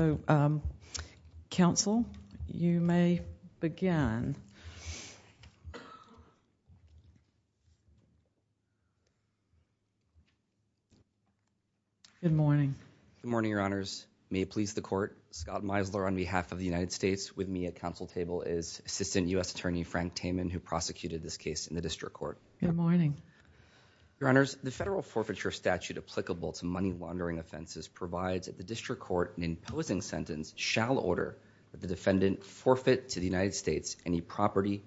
Good morning, Your Honors. May it please the Court, Scott Meisler on behalf of the United States. With me at council table is Assistant U.S. Attorney Frank Taman, who prosecuted this case in the District Court. Good morning. Your Honors, the federal forfeiture statute applicable to money laundering offenses provides that the District Court, in imposing sentence, shall order that the defendant forfeit to the United States any property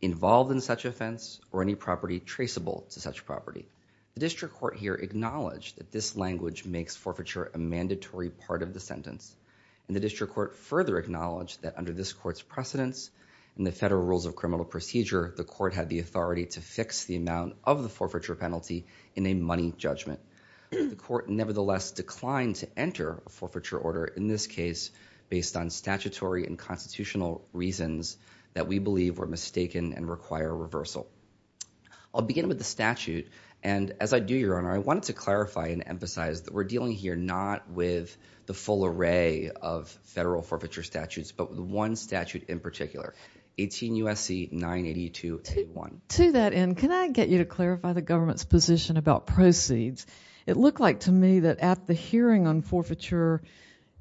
involved in such offense or any property traceable to such property. The District Court here acknowledged that this language makes forfeiture a mandatory part of the sentence, and the District Court further acknowledged that under this Court's precedence in the Federal Rules of Criminal Procedure, the Court had the authority to fix the amount of the forfeiture penalty in a money judgment. The Court nevertheless declined to enter a forfeiture order in this case based on statutory and constitutional reasons that we believe were mistaken and require reversal. I'll begin with the statute, and as I do, Your Honor, I wanted to clarify and emphasize that we're dealing here not with the full array of federal forfeiture statutes, but with one statute in particular, 18 U.S.C. 982, take 1. To that end, can I get you to clarify the government's position about proceeds? It looked like to me that at the hearing on forfeiture,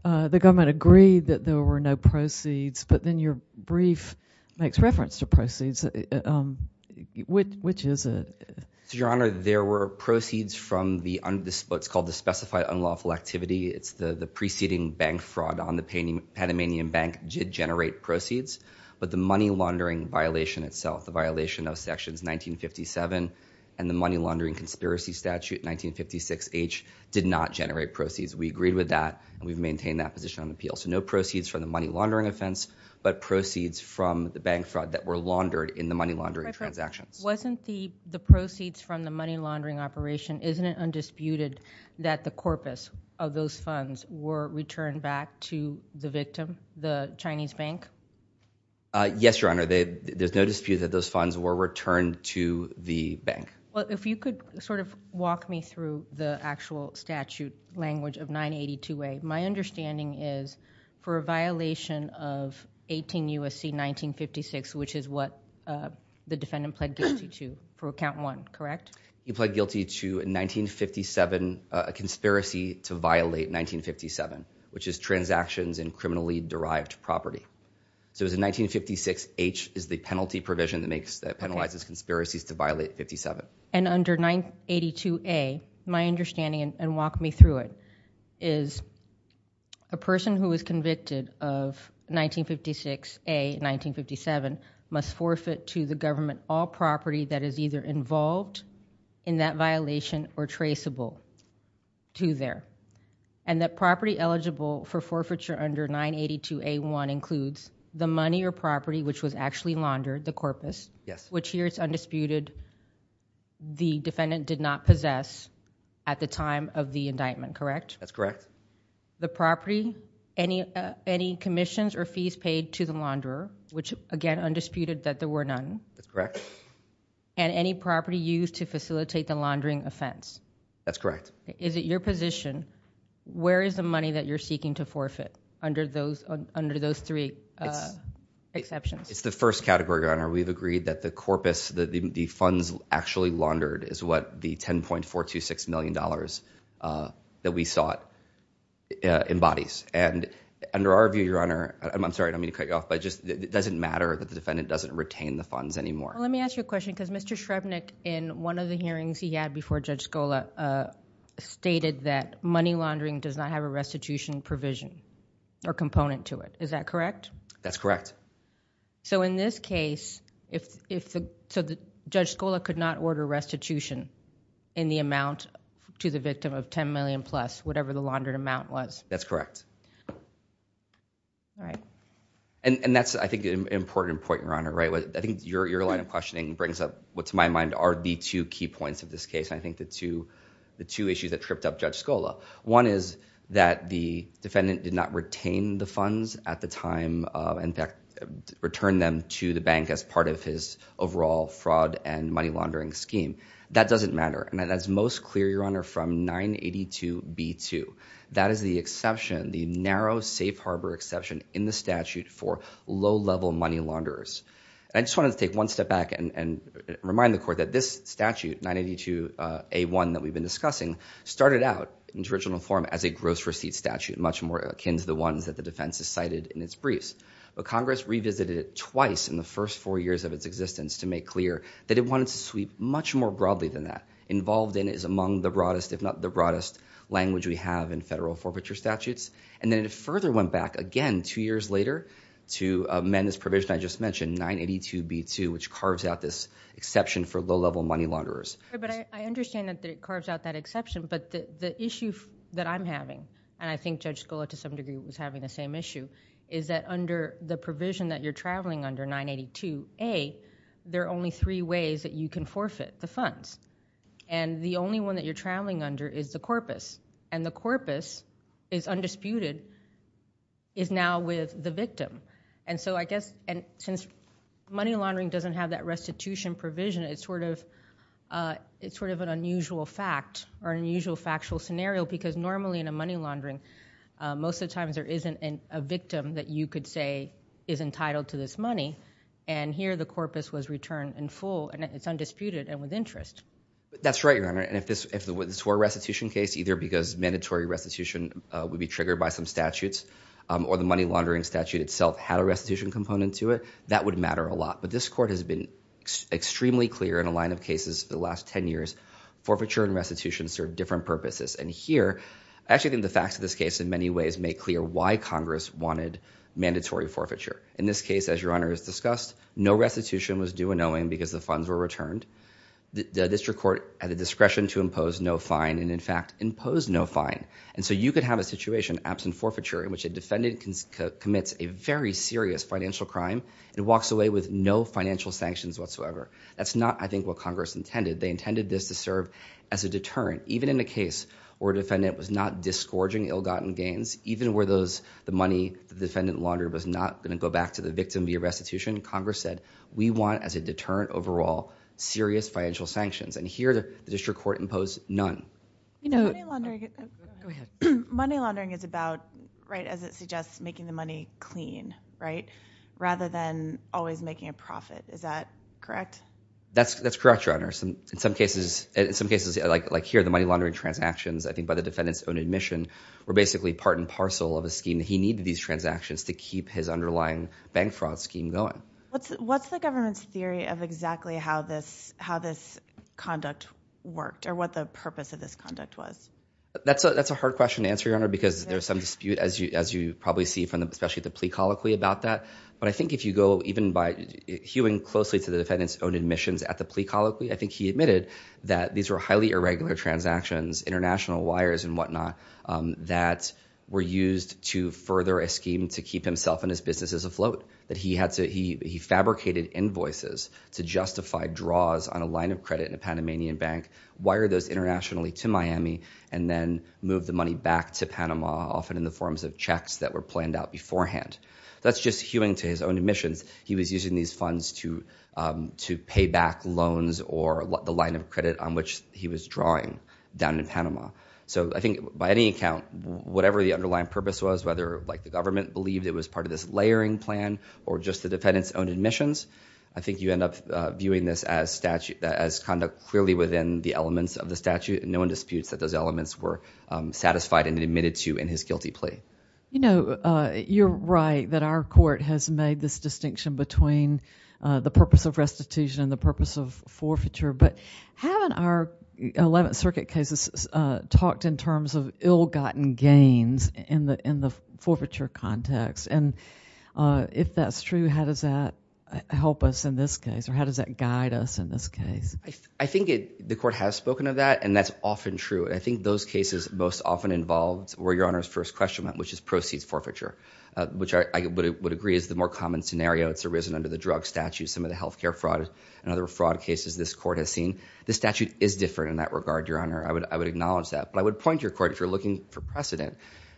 the government agreed that there were no proceeds, but then your brief makes reference to proceeds. Which is it? Your Honor, there were proceeds from what's called the specified unlawful activity. It's the preceding bank fraud on the Panamanian Bank did generate proceeds, but the money laundering violation itself, the violation of sections 1957 and the money laundering conspiracy statute 1956H did not generate proceeds. We agreed with that, and we've maintained that position on appeal. So no proceeds from the money laundering offense, but proceeds from the bank fraud that were laundered in the money laundering transactions. Wasn't the proceeds from the money laundering operation, isn't it undisputed that the corpus of those funds were returned back to the victim, the Chinese bank? Yes, Your Honor. There's no dispute that those funds were returned to the bank. Well, if you could sort of walk me through the actual statute language of 982A, my understanding is for a violation of 18 U.S.C. 1956, which is what the defendant pled guilty to for account one, correct? He pled guilty to 1957, a conspiracy to violate 1957, which is transactions in criminally derived property. So it was in 1956H is the penalty provision that penalizes conspiracies to violate 1957. And under 982A, my understanding, and walk me through it, is a person who is convicted of 1956A, 1957, must forfeit to the government all property that is either involved in that violation or traceable to there. And that property eligible for forfeiture under 982A1 includes the money or property which was actually laundered, the corpus. Yes. Which here is undisputed. The defendant did not possess at the time of the indictment, correct? That's correct. The property, any commissions or fees paid to the launderer, which again, undisputed that there were none. That's correct. And any property used to facilitate the laundering offense? That's correct. Is it your position, where is the money that you're seeking to forfeit under those three exceptions? It's the first category, Your Honor. We've agreed that the corpus, the funds actually laundered is what the $10.426 million that we sought embodies. And under our view, Your Honor, I'm sorry, I'm going to cut you off, but it doesn't matter that the defendant doesn't retain the funds anymore. Let me ask you a question, because Mr. Shrevenick in one of the hearings he had before Judge Scola stated that money laundering does not have a restitution provision or component to it. Is that correct? That's correct. So, in this case, Judge Scola could not order restitution in the amount to the victim of $10 million plus, whatever the laundered amount was? That's correct. All right. And that's, I think, an important point, Your Honor. I think your line of questioning brings up what, to my mind, are the two key points of this case. I think the two issues that that the defendant is facing, and the two issues that are at the center of this case, is that he's not going to be able to withdraw the money that he has, which he can't, in fact, return them to the bank as part of his overall fraud and money laundering scheme. That doesn't matter. And that's most clear, Your Honor, from 982B2. That is the exception, the narrow, safe harbor exception in the statute for low-level money launderers. And I just wanted to take one step back and remind the Court that this statute, 982A1, that we've been discussing, started out, in its original form, as a gross receipt statute, much more akin to the ones that the defense has cited in its briefs. But Congress revisited it twice in the first four years of its existence to make clear that it wanted to sweep much more broadly than that. Involved in it is among the broadest, if not the broadest, language we have in federal forfeiture statutes. And then it further went back, again, two years later, to amend this provision I just mentioned, 982B2, which carves out this exception for low-level money launderers. But I understand that it carves out that exception, but the issue that I'm having, and I think Judge Scola, to some degree, is having the same issue, is that under the provision that you're traveling under, 982A, there are only three ways that you can forfeit the funds. The only one that you're traveling under is the corpus, and the corpus is undisputed, is now with the victim. And so I guess, since money laundering doesn't have that restitution provision, it's sort of an unusual fact, or an unusual factual scenario, because normally in a money laundering, most of the times there isn't a victim that you could say is entitled to this money, and here the corpus was returned in full, and it's undisputed and with interest. That's right, Your Honor, and if this were a restitution case, either because mandatory restitution would be triggered by some statutes, or the money laundering statute itself had a restitution component to it, that would matter a lot. But this Court has been extremely clear in a line of cases for the last 10 years, forfeiture and restitution serve different purposes. And here, I actually think the facts of this case in many ways make clear why Congress wanted mandatory forfeiture. In this case, as Your Honor has discussed, no restitution was due unknowing because the funds were returned. The district court had the discretion to impose no fine, and in fact, imposed no fine. And so you could have a situation absent forfeiture in which a defendant commits a very serious financial crime, and walks away with no financial sanctions whatsoever. That's not, I think, what Congress intended. They intended this to serve as a deterrent. Even in a case where a defendant was not disgorging ill-gotten gains, even where the money the defendant laundered was not going to go back to the victim via restitution, Congress said, we want, as a deterrent overall, serious financial sanctions. And here, the district court imposed none. Money laundering is about, right, as it suggests, making the money clean, right? Rather than always making a profit. Is that correct? That's correct, Your Honor. In some cases, like here, the money laundering transactions, I think by the defendant's own admission, were basically part and parcel of a scheme. He needed these transactions to keep his underlying bank fraud scheme going. What's the government's theory of exactly how this conduct worked, or what the purpose of this conduct was? That's a hard question to answer, Your Honor, because there's some dispute, as you probably see from especially the plea colloquy about that. But I think if you go even by hewing closely to the defendant's own admissions at the plea colloquy, I think he admitted that these were highly irregular transactions, international wires and whatnot, that were used to further a scheme to keep himself and his businesses afloat, that he fabricated invoices to justify draws on a line of credit in a Panamanian bank, wired those internationally to Miami, and then moved the money back to Panama, often in the forms of checks that were planned out beforehand. That's just hewing to his own admissions. He was using these funds to pay back loans or the line of credit on which he was drawing down in Panama. So I think by any account, whatever the underlying purpose was, whether the government believed it was part of this layering plan, or just the defendant's own admissions, I think you end up viewing this as conduct clearly within the elements of the statute, and no one disputes that those elements were satisfied and admitted to in his guilty plea. You know, you're right that our court has made this distinction between the purpose of restitution and the purpose of forfeiture, but haven't our Eleventh Circuit cases talked in terms of ill-gotten gains in the forfeiture context? And if that's true, how does that help us in this case, or how does that guide us in this case? I think the court has spoken of that, and that's often true. I think those cases most often involved where Your Honor's first question went, which is proceeds forfeiture, which I would agree is the more common scenario. It's arisen under the drug statute, some of the health care fraud and other fraud cases this court has seen. The statute is different in that regard, Your Honor. I would acknowledge that. But I would point your court, if you're looking for precedent,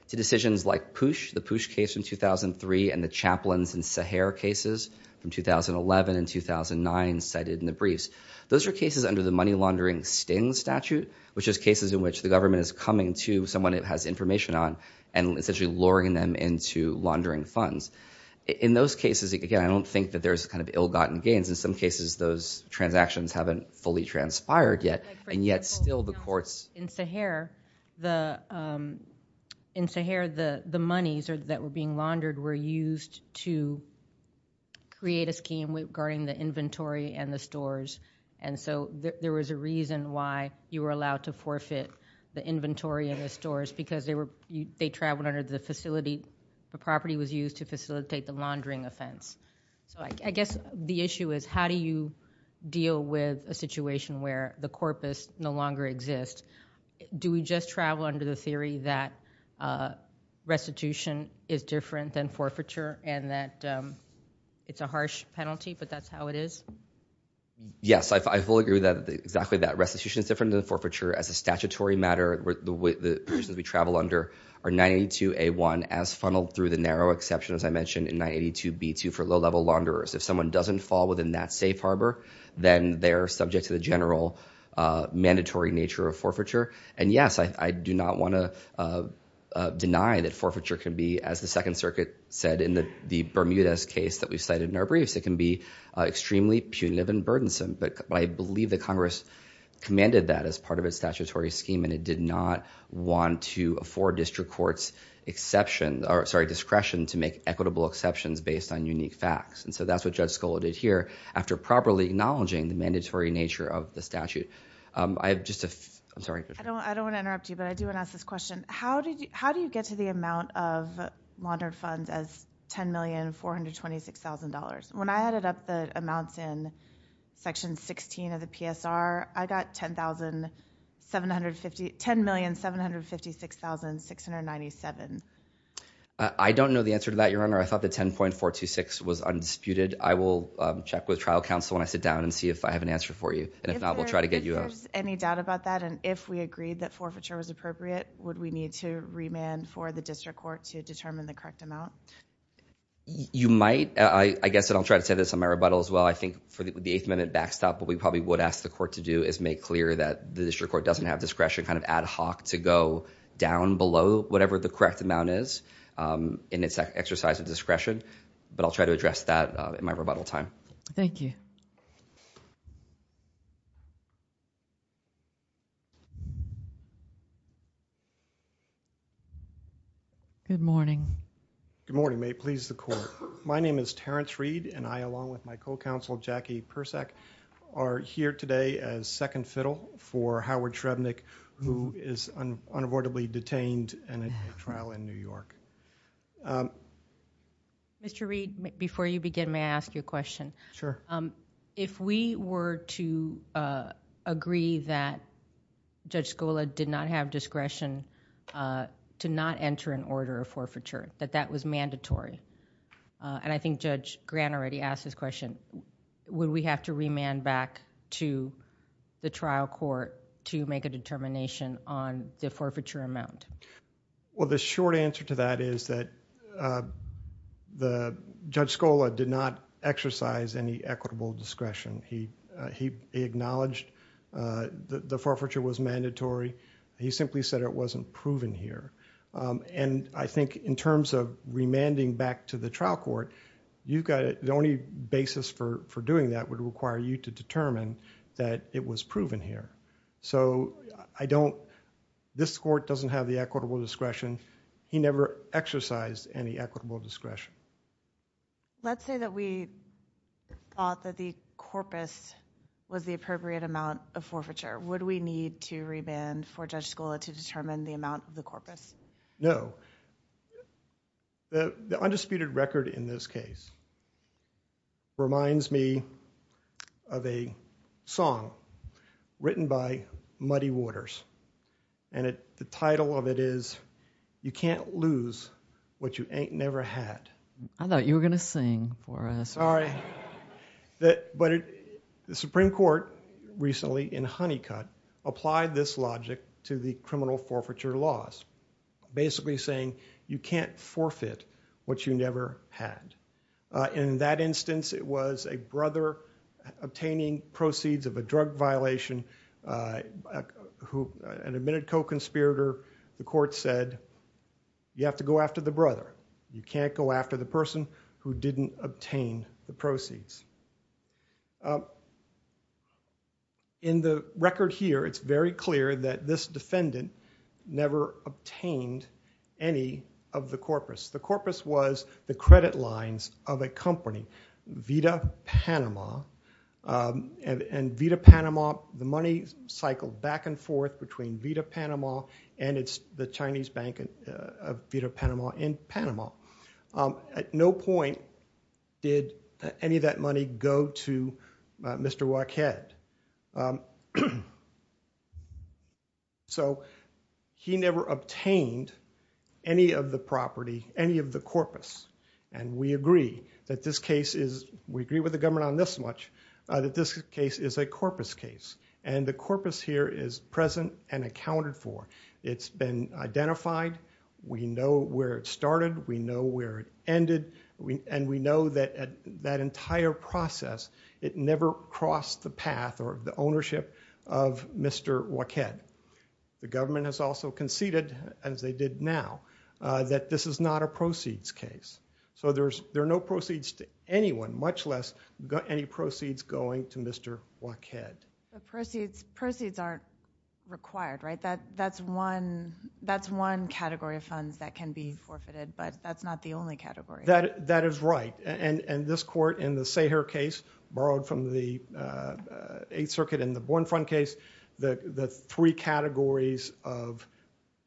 to decisions like PUSH, the PUSH case in 2003, and the Chaplins and Sahar cases from 2011 and 2009 cited in the briefs. Those are cases under the money laundering sting statute, which is cases in which the government is coming to someone it has information on and essentially luring them into laundering funds. In those cases, again, I don't think that there's kind of ill-gotten gains. In some cases, those transactions haven't fully transpired yet, and yet still the courts... In Sahar, the monies that were being laundered were used to create a scheme regarding the reason why you were allowed to forfeit the inventory in the stores, because they traveled under the facility, the property was used to facilitate the laundering offense. So I guess the issue is how do you deal with a situation where the corpus no longer exists? Do we just travel under the theory that restitution is different than forfeiture and that it's a harsh penalty, but that's how it is? Yes, I fully agree with that. Exactly that. Restitution is different than forfeiture as a statutory matter. The persons we travel under are 982A1 as funneled through the narrow exception as I mentioned in 982B2 for low-level launderers. If someone doesn't fall within that safe harbor, then they're subject to the general mandatory nature of forfeiture. And yes, I do not want to deny that forfeiture can be, as the Second Circuit said in the Bermudez case that we cited in our briefs, it can be extremely punitive and burdensome, but I believe that Congress commanded that as part of its statutory scheme and it did not want to afford district courts discretion to make equitable exceptions based on unique facts. And so that's what Judge Scola did here, after properly acknowledging the mandatory nature of the statute. I have just a... I'm sorry. I don't want to interrupt you, but I do want to ask this question. How do you get to the $426,000? When I added up the amounts in Section 16 of the PSR, I got $10,750... $10,756,697. I don't know the answer to that, Your Honor. I thought the 10.426 was undisputed. I will check with trial counsel when I sit down and see if I have an answer for you. And if not, we'll try to get you a... If there's any doubt about that and if we agreed that forfeiture was appropriate, would we need to remand for the district court to You might. I guess I'll try to say this on my rebuttal as well. I think for the eighth minute backstop, what we probably would ask the court to do is make clear that the district court doesn't have discretion kind of ad hoc to go down below whatever the correct amount is in its exercise of discretion. But I'll try to address that in my rebuttal time. Thank you. Good morning. May it please the court. My name is Terrence Reed and I along with my co-counsel Jackie Persak are here today as second fiddle for Howard Shrebnick who is unavoidably detained in a trial in New York. Mr. Reed, before you begin, may I ask you a question? Sure. If we were to agree that Judge Scola did not have discretion to not enter an order of forfeiture, that that was mandatory, and I think Judge Grant already asked this question, would we have to remand back to the trial court to make a determination on the forfeiture amount? The short answer to that is that Judge Scola did not exercise any equitable discretion. He acknowledged that the forfeiture was mandatory. He simply said it wasn't proven here. I think in terms of remanding back to the trial court, the only basis for doing that would require you to determine that it was proven here. This court doesn't have the equitable discretion. He never exercised any equitable discretion. Let's say that we thought that the corpus was the appropriate amount of forfeiture. Would we need to remand for Judge Scola to do that? The undisputed record in this case reminds me of a song written by Muddy Waters. The title of it is, You Can't Lose What You Ain't Never Had. I thought you were going to sing for us. The Supreme Court recently in Honeycutt applied this logic to the criminal forfeiture laws. Basically saying, you can't forfeit what you never had. In that instance, it was a brother obtaining proceeds of a drug violation. An admitted co-conspirator, the court said, you have to go after the brother. You can't go after the person who didn't obtain the proceeds. In the record here, it's very clear that this defendant never obtained any of the corpus. The corpus was the credit lines of a company, Vita Panama. Vita Panama, the money cycled back and forth between Vita Panama and the Chinese bank of Vita Panama in Panama. At no point did any of that money go to Mr. Waqued. He never obtained any of the property, any of the corpus. We agree with the government on this much, that this case is a corpus case. The corpus here is present and accounted for. It's been identified. We know where it started. We know where it ended. We know that that entire process, it never crossed the path or the ownership of Mr. Waqued. The government has also conceded, as they did now, that this is not a proceeds case. There are no proceeds to anyone, much less any proceeds going to Mr. Waqued. Proceeds aren't required, right? That's one category of funds that can be forfeited, but that's not the only category. That is right. This court in the Sayher case, borrowed from the 8th Circuit in the Born Fund case, the three categories of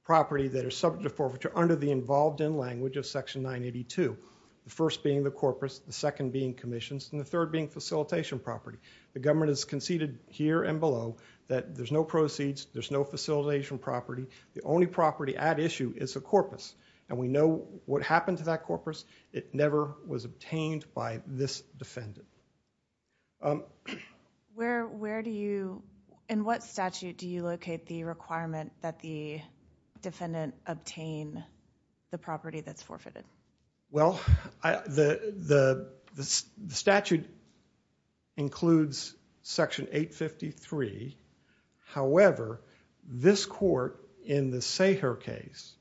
property that are subject to forfeiture under the involved in language of Section 982, the first being the corpus, the second being commissions, and the third being facilitation property. The government has conceded here and below that there's no proceeds, there's no facilitation property. The only property at issue is a corpus. What happened to that corpus? It never was obtained by this defendant. In what statute do you locate the requirement that the defendant obtain the property that's forfeited? Well, the statute includes Section 853. However, this court in the Sayher case,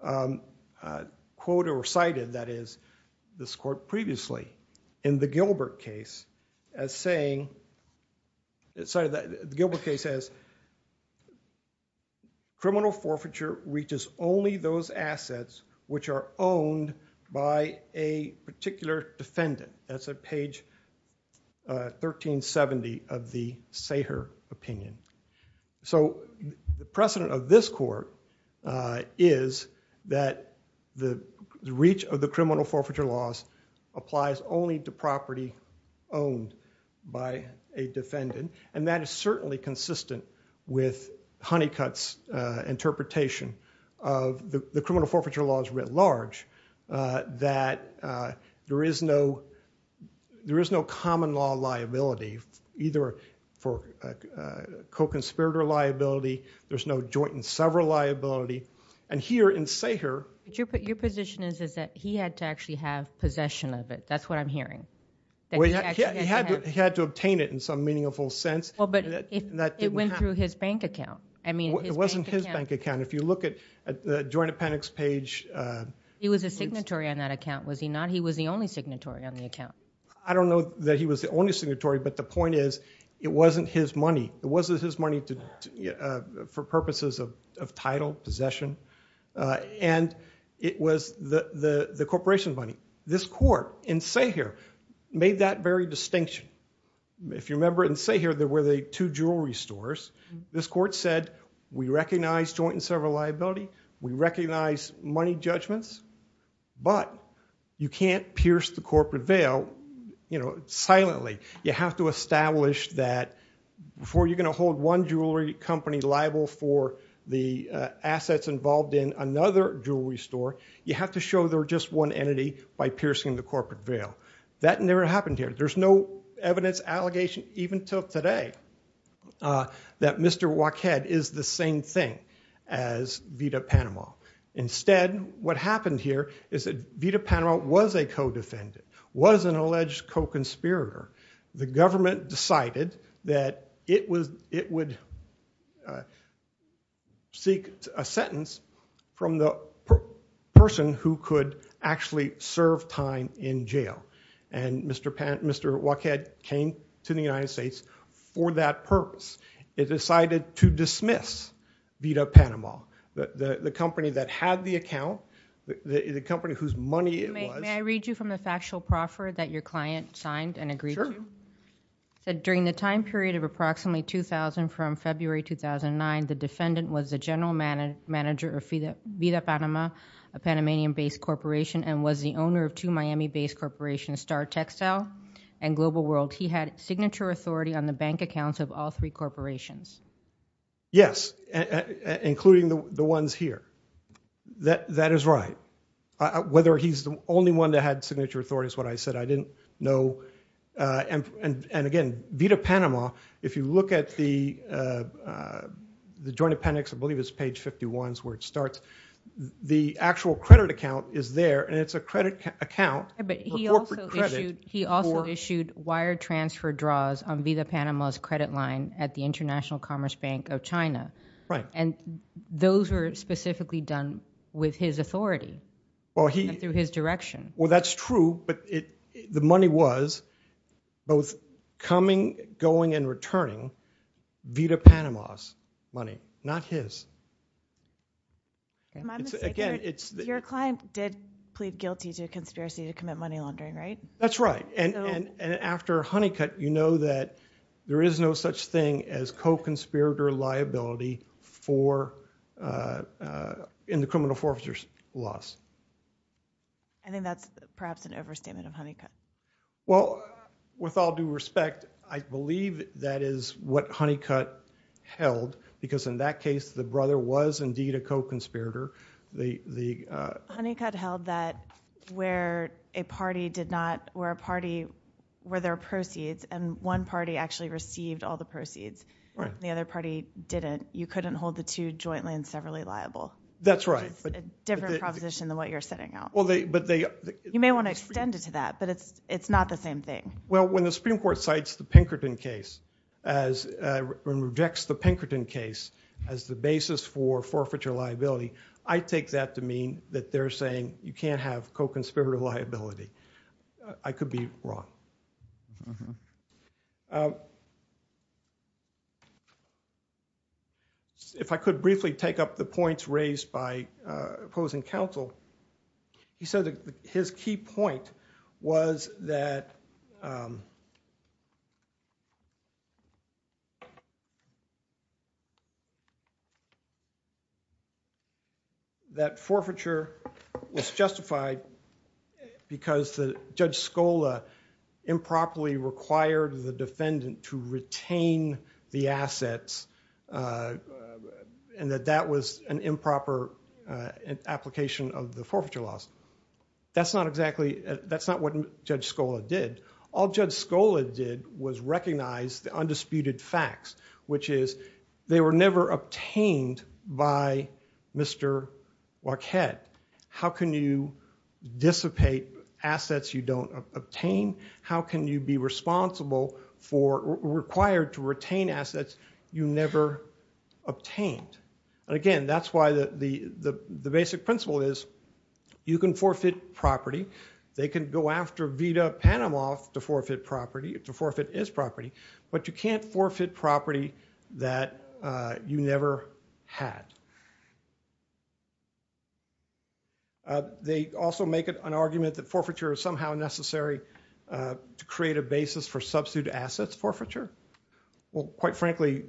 quote or quote recited, that is, this court previously in the Gilbert case as saying, the Gilbert case says, criminal forfeiture reaches only those assets which are owned by a particular defendant. That's at page 1370 of the Sayher opinion. So the precedent of this court is that the reach of the criminal forfeiture laws applies only to property owned by a defendant, and that is certainly consistent with Honeycutt's interpretation of the criminal forfeiture laws writ large, that there is no common law liability, either for co-conspirator liability, there's no joint and several liability. And here in Sayher... Your position is that he had to actually have possession of it. That's what I'm hearing. He had to obtain it in some meaningful sense. But it went through his bank account. It wasn't his bank account. If you look at the joint appendix page... He was a signatory on that account, was he not? He was the only signatory on the account. I don't know that he was the only signatory, but the point is, it wasn't his money. It wasn't his money for purposes of title, possession. And it was the corporation money. This court in Sayher made that very distinction. If you remember in Sayher, there were the two jewelry stores. This court said, we recognize joint and several liability, we recognize money judgments, but you can't pierce the corporate veil silently. You have to establish that before you're going to hold one jewelry company liable for the assets involved in another jewelry store, you have to show they're just one entity by piercing the corporate veil. That never happened here. There's no evidence, allegation, even till today, that Mr. Wackhead is the same thing as Vita Panama. Instead, what happened here is that Vita Panama was a co-defendant, was an alleged co-conspirator. The government decided that it would seek a sentence from the person who could actually serve time in jail. And Mr. Wackhead came to the United States for that purpose. It decided to dismiss Vita Panama, the company that had the account, the company whose money it was. May I read you from the factual proffer that your client signed and agreed to? Sure. During the time period of approximately 2000 from February 2009, the defendant was the general manager of Vita Panama, a Panamanian-based corporation, and was the owner of two Miami-based corporations, Star Textile and Global World. He had signature authority on the bank accounts of all three corporations. Yes, including the ones here. That is right. Whether he's the only one that had signature authority is what I said. I didn't know. And again, Vita Panama, if you look at the joint appendix, I believe it's page 51 is where it starts, the actual credit account is there, and it's a credit account for corporate credit. He also issued wire transfer draws on Vita Panama's credit line at the International Commerce Bank of China. And those were specifically done with his authority and through his direction. Well, that's true, but the money was both coming, going, and returning Vita Panama's money, not his. Am I mistaken? Your client did plead guilty to conspiracy to commit money laundering, right? That's right. And after Honeycutt, you know that there is no such thing as co-conspirator liability in the criminal forfeiture laws. I think that's perhaps an overstatement of Honeycutt. Well, with all due respect, I believe that is what Honeycutt held, because in that case, the brother was indeed a co-conspirator. Honeycutt held that where a party did not, where a party, where there are proceeds, and one party actually received all the proceeds, and the other party didn't, you couldn't hold the two jointly and severally liable. That's right. It's a different proposition than what you're setting out. You may want to extend it to that, but it's not the same thing. Well, when the Supreme Court cites the Pinkerton case, and rejects the Pinkerton case as the basis for forfeiture liability, I take that to mean that they're saying you can't have co-conspirator liability. I could be wrong. If I could briefly take up the points raised by opposing counsel, he said that his key point was that forfeiture was justified because Judge Scola improperly required the defendant to retain the assets, and that that was an improper application of the forfeiture laws. That's not exactly, that's not what Judge Scola did. All Judge Scola did was recognize the undisputed facts, which is they were never obtained by Mr. Wachette. How can you dissipate assets you don't obtain? How can you be responsible for, required to retain assets you never obtained? Again, that's why the basic principle is you can forfeit property. They can go after Vita Panamoff to forfeit property, to forfeit his property, but you can't forfeit property that you never had. They also make an argument that forfeiture is somehow necessary to create a basis for substitute assets forfeiture. Well, quite frankly,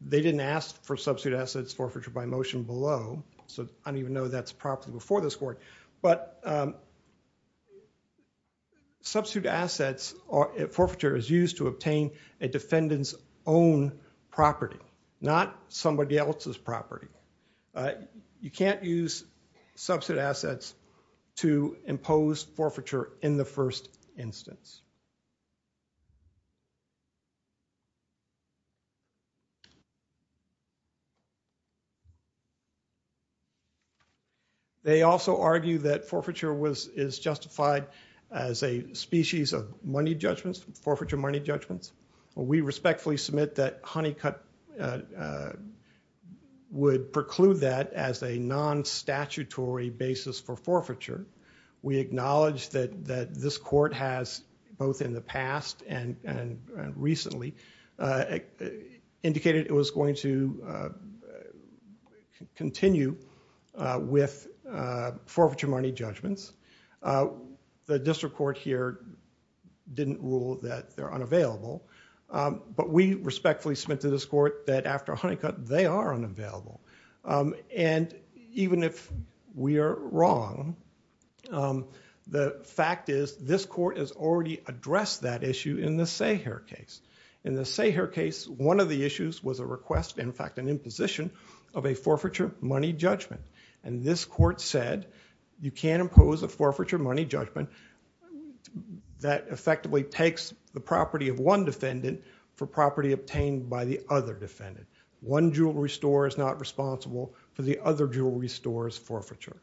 they didn't ask for substitute assets forfeiture by motion below, so I don't even know that's properly before this court, but substitute assets forfeiture is used to obtain a defendant's own property, not somebody else's property. You can't use substitute assets to impose forfeiture in the first instance. They also argue that forfeiture is justified as a species of money judgments, forfeiture money judgments. We respectfully submit that Honeycutt would preclude that as a non-statutory basis for forfeiture. We acknowledge that this court has, both in the past and recently, indicated it was going to continue with forfeiture money judgments. The district court here didn't rule that they're unavailable, but we respectfully submit to this court that after Honeycutt, they are unavailable. Even if we are wrong, the fact is this court has already addressed that issue in the Sahar case. In the Sahar case, one of the issues was a request, in fact an imposition, of a forfeiture money judgment. This court said you can't impose a forfeiture money judgment that effectively takes the property of one defendant for property obtained by the other defendant. One jewelry store is not responsible for the other jewelry store's forfeiture.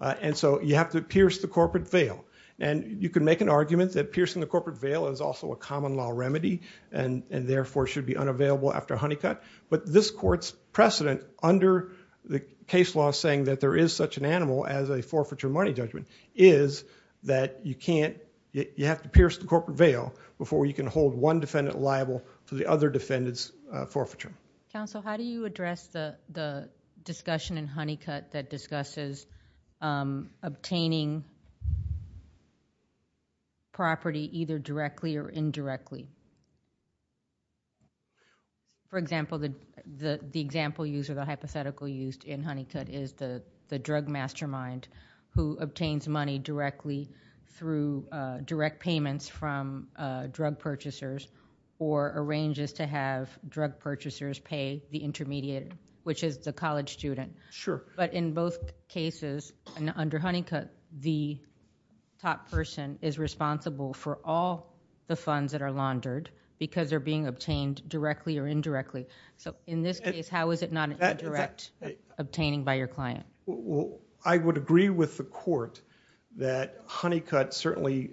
You have to pierce the corporate veil. You can make an argument that piercing the corporate veil is also a common law remedy and therefore should be unavailable after Honeycutt, but this court's precedent under the case law saying that there is such an animal as a forfeiture money judgment is that you have to pierce the corporate veil before you can hold one defendant liable to the other defendant's forfeiture. Counsel, how do you address the discussion in Honeycutt that discusses obtaining property either directly or indirectly? For example, the example used or the hypothetical used in Honeycutt is the drug mastermind who obtains money directly through direct payments from drug purchasers or arranges to have drug purchasers pay the intermediate, which is the college student. But in both cases, under Honeycutt, the top person is responsible for all the funds that are laundered because they're being obtained directly or indirectly. So in this case, how is it not an indirect obtaining by your client? I would agree with the court that Honeycutt certainly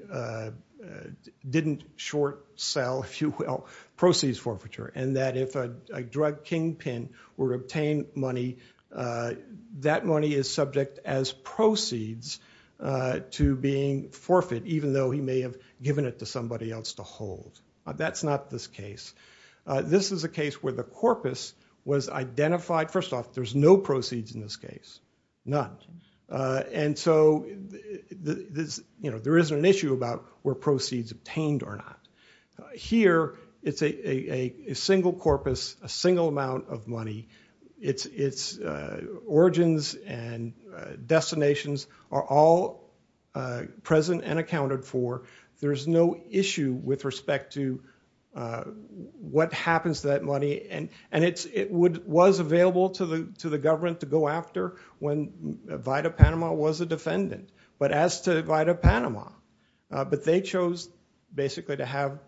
didn't short sell, if you will, proceeds forfeiture and that if a drug kingpin were to obtain money, that money is subject as proceeds to being forfeit, even though he may have given it to somebody else to hold. That's not this case. This is a case where the corpus was identified. First off, there's no proceeds in this case, none. And so there isn't an issue about where proceeds obtained or not. Here it's a single corpus, a single amount of money. Its origins and destinations are all present and accounted for. There's no issue with respect to what happens to that money. And it was available to the government to go after when Vida Panama was a defendant. But as to Vida Panama, but they chose basically to have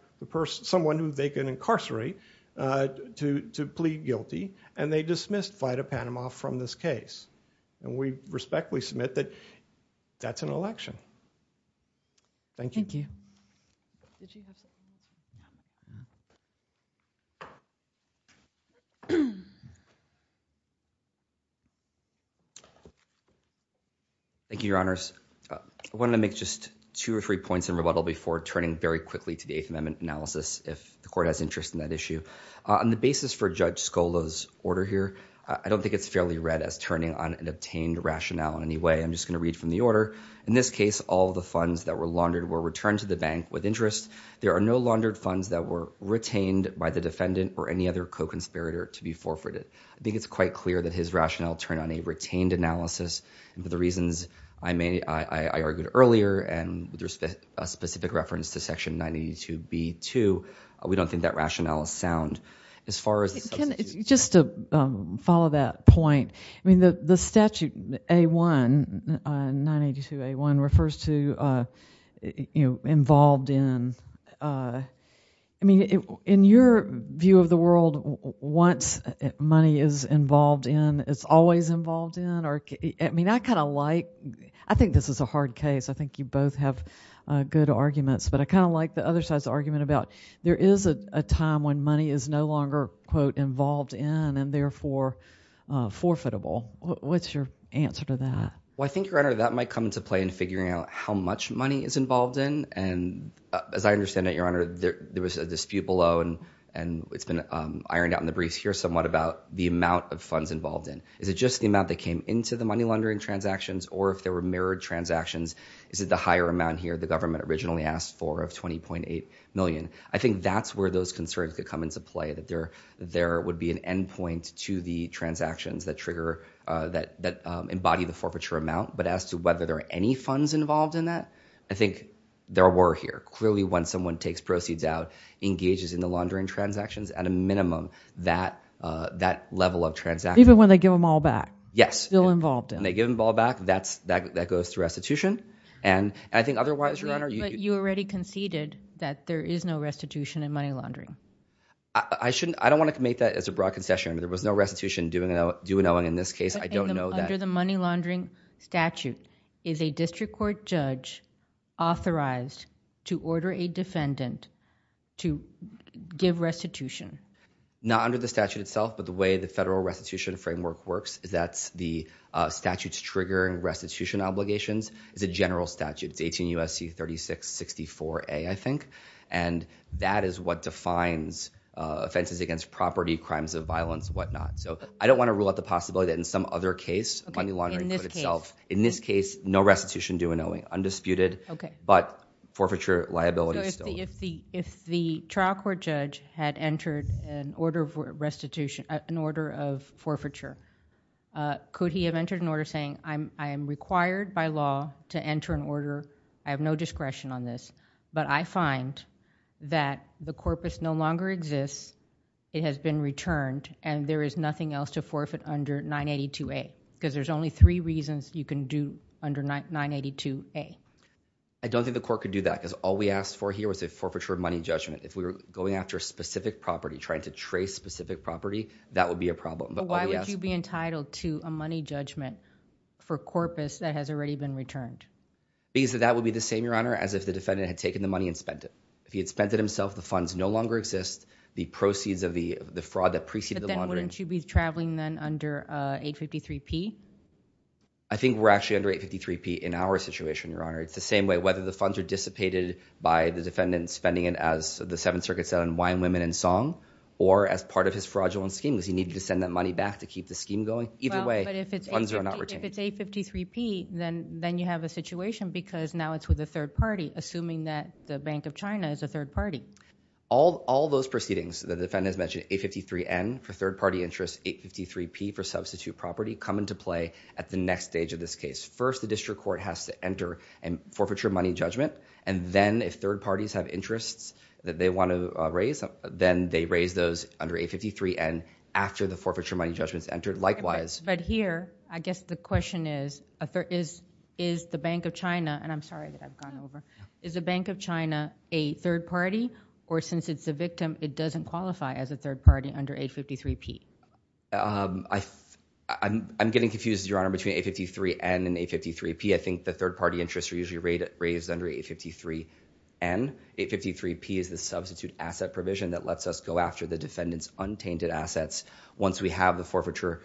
someone who they can incarcerate to and they dismissed Vida Panama from this case. And we respectfully submit that that's an election. Thank you. Thank you. Thank you, Your Honors. I want to make just two or three points in rebuttal before turning very quickly to the On the basis for Judge Scola's order here, I don't think it's fairly read as turning on an obtained rationale in any way. I'm just going to read from the order. In this case, all of the funds that were laundered were returned to the bank with interest. There are no laundered funds that were retained by the defendant or any other co-conspirator to be forfeited. I think it's quite clear that his rationale turned on a retained analysis. And for the reasons I argued earlier, and there's a specific reference to Section 982B2, we don't think that rationale is sound as far as substitutes. Just to follow that point, I mean, the statute A1, 982A1, refers to involved in, I mean, in your view of the world, once money is involved in, it's always involved in, or I mean, I kind of like, I think this is a hard case. I think you both have good arguments, but I kind of like the other side's argument about there is a time when money is no longer, quote, involved in and therefore forfeitable. What's your answer to that? Well, I think, Your Honor, that might come into play in figuring out how much money is involved in. And as I understand it, Your Honor, there was a dispute below, and it's been ironed out in the briefs here somewhat about the amount of funds involved in. Is it just the amount that came into the money laundering transactions, or if there were mirrored transactions, is it the higher amount here the government originally asked for of $20.8 million? I think that's where those concerns could come into play, that there would be an endpoint to the transactions that trigger, that embody the forfeiture amount. But as to whether there are any funds involved in that, I think there were here. Clearly when someone takes proceeds out, engages in the laundering transactions, at a minimum, that level of transaction. Even when they give them all back? Yes. Still involved in. When they give them all back, that goes through restitution. And I think otherwise, Your Honor, you can- But you said that there is no restitution in money laundering. I shouldn't- I don't want to make that as a broad concession. There was no restitution due in Owen in this case. I don't know that- Under the money laundering statute, is a district court judge authorized to order a defendant to give restitution? Not under the statute itself, but the way the federal restitution framework works is that the statutes triggering restitution obligations is a general statute. It's 18 U.S.C. 3664A, I think. And that is what defines offenses against property, crimes of violence, whatnot. So I don't want to rule out the possibility that in some other case, money laundering could itself- Okay. In this case? In this case, no restitution due in Owen. Undisputed. Okay. But forfeiture liability still- So if the trial court judge had entered an order of restitution, an order of forfeiture, could he have entered an order saying, I am required by law to enter an order, I have no discretion on this, but I find that the corpus no longer exists, it has been returned, and there is nothing else to forfeit under 982A. Because there's only three reasons you can do under 982A. I don't think the court could do that, because all we asked for here was a forfeiture of money judgment. If we were going after a specific property, trying to trace specific property, that would be a problem. But why would you be entitled to a money judgment for corpus that has already been returned? Because that would be the same, Your Honor, as if the defendant had taken the money and spent it. If he had spent it himself, the funds no longer exist, the proceeds of the fraud that preceded the laundering- But then wouldn't you be traveling then under 853P? I think we're actually under 853P in our situation, Your Honor. It's the same way, whether the funds are dissipated by the defendant spending it as the Seventh Circuit said on wine, women, and song, or as part of his fraudulent scheme, because he needed to send that money back to keep the scheme going. Either way, funds are not retained. Well, but if it's 853P, then you have a situation, because now it's with a third party, assuming that the Bank of China is a third party. All those proceedings, the defendant has mentioned 853N for third-party interest, 853P for substitute property, come into play at the next stage of this case. First, the district court has to enter a forfeiture of money judgment, and then if third parties have interests that they want to raise, then they raise those under 853N after the forfeiture of money judgment's entered. Likewise- But here, I guess the question is, is the Bank of China, and I'm sorry that I've gone over, is the Bank of China a third party? Or since it's a victim, it doesn't qualify as a third party under 853P? I'm getting confused, Your Honor, between 853N and 853P. I think the third-party interests are usually raised under 853N, 853P is the substitute asset provision that lets us go after the defendant's untainted assets once we have the forfeiture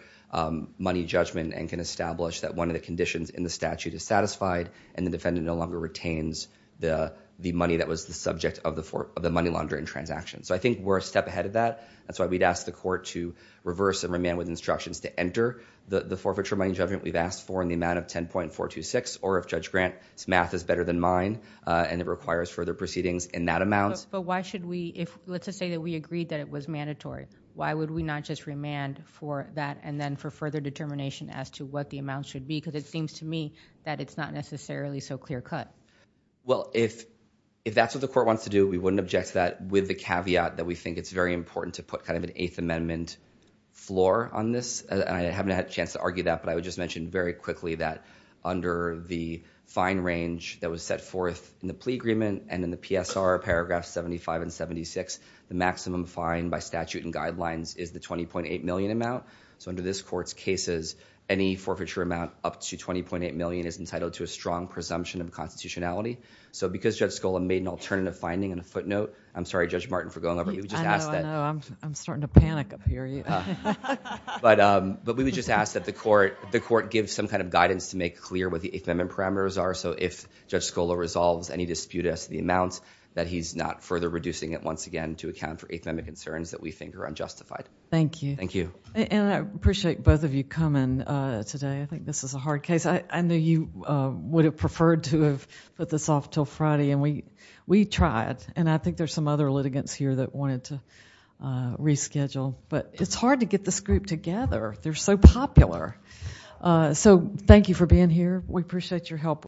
money judgment and can establish that one of the conditions in the statute is satisfied and the defendant no longer retains the money that was the subject of the money laundering transaction. So I think we're a step ahead of that, that's why we'd ask the court to reverse and remain with instructions to enter the forfeiture money judgment we've asked for in the amount of 10.426, or if Judge Grant's math is better than mine and it requires further proceedings in that amount- But why should we, if, let's just say that we agreed that it was mandatory, why would we not just remand for that and then for further determination as to what the amount should be? Because it seems to me that it's not necessarily so clear cut. Well if that's what the court wants to do, we wouldn't object to that with the caveat that we think it's very important to put kind of an Eighth Amendment floor on this. I haven't had a chance to argue that, but I would just mention very quickly that under the fine range that was set forth in the plea agreement and in the PSR paragraph 75 and 76, the maximum fine by statute and guidelines is the $20.8 million amount. So under this court's cases, any forfeiture amount up to $20.8 million is entitled to a strong presumption of constitutionality. So because Judge Scola made an alternative finding and a footnote, I'm sorry Judge Martin for going over, we just asked that- I know, I know, I'm starting to panic up here. But we would just ask that the court give some kind of guidance to make clear what the Eighth Amendment parameters are. So if Judge Scola resolves any dispute as to the amount, that he's not further reducing it once again to account for Eighth Amendment concerns that we think are unjustified. Thank you. Thank you. And I appreciate both of you coming today. I think this is a hard case. I know you would have preferred to have put this off until Friday and we tried. And I think there's some other litigants here that wanted to reschedule. But it's hard to get this group together. They're so popular. So thank you for being here. We appreciate your help.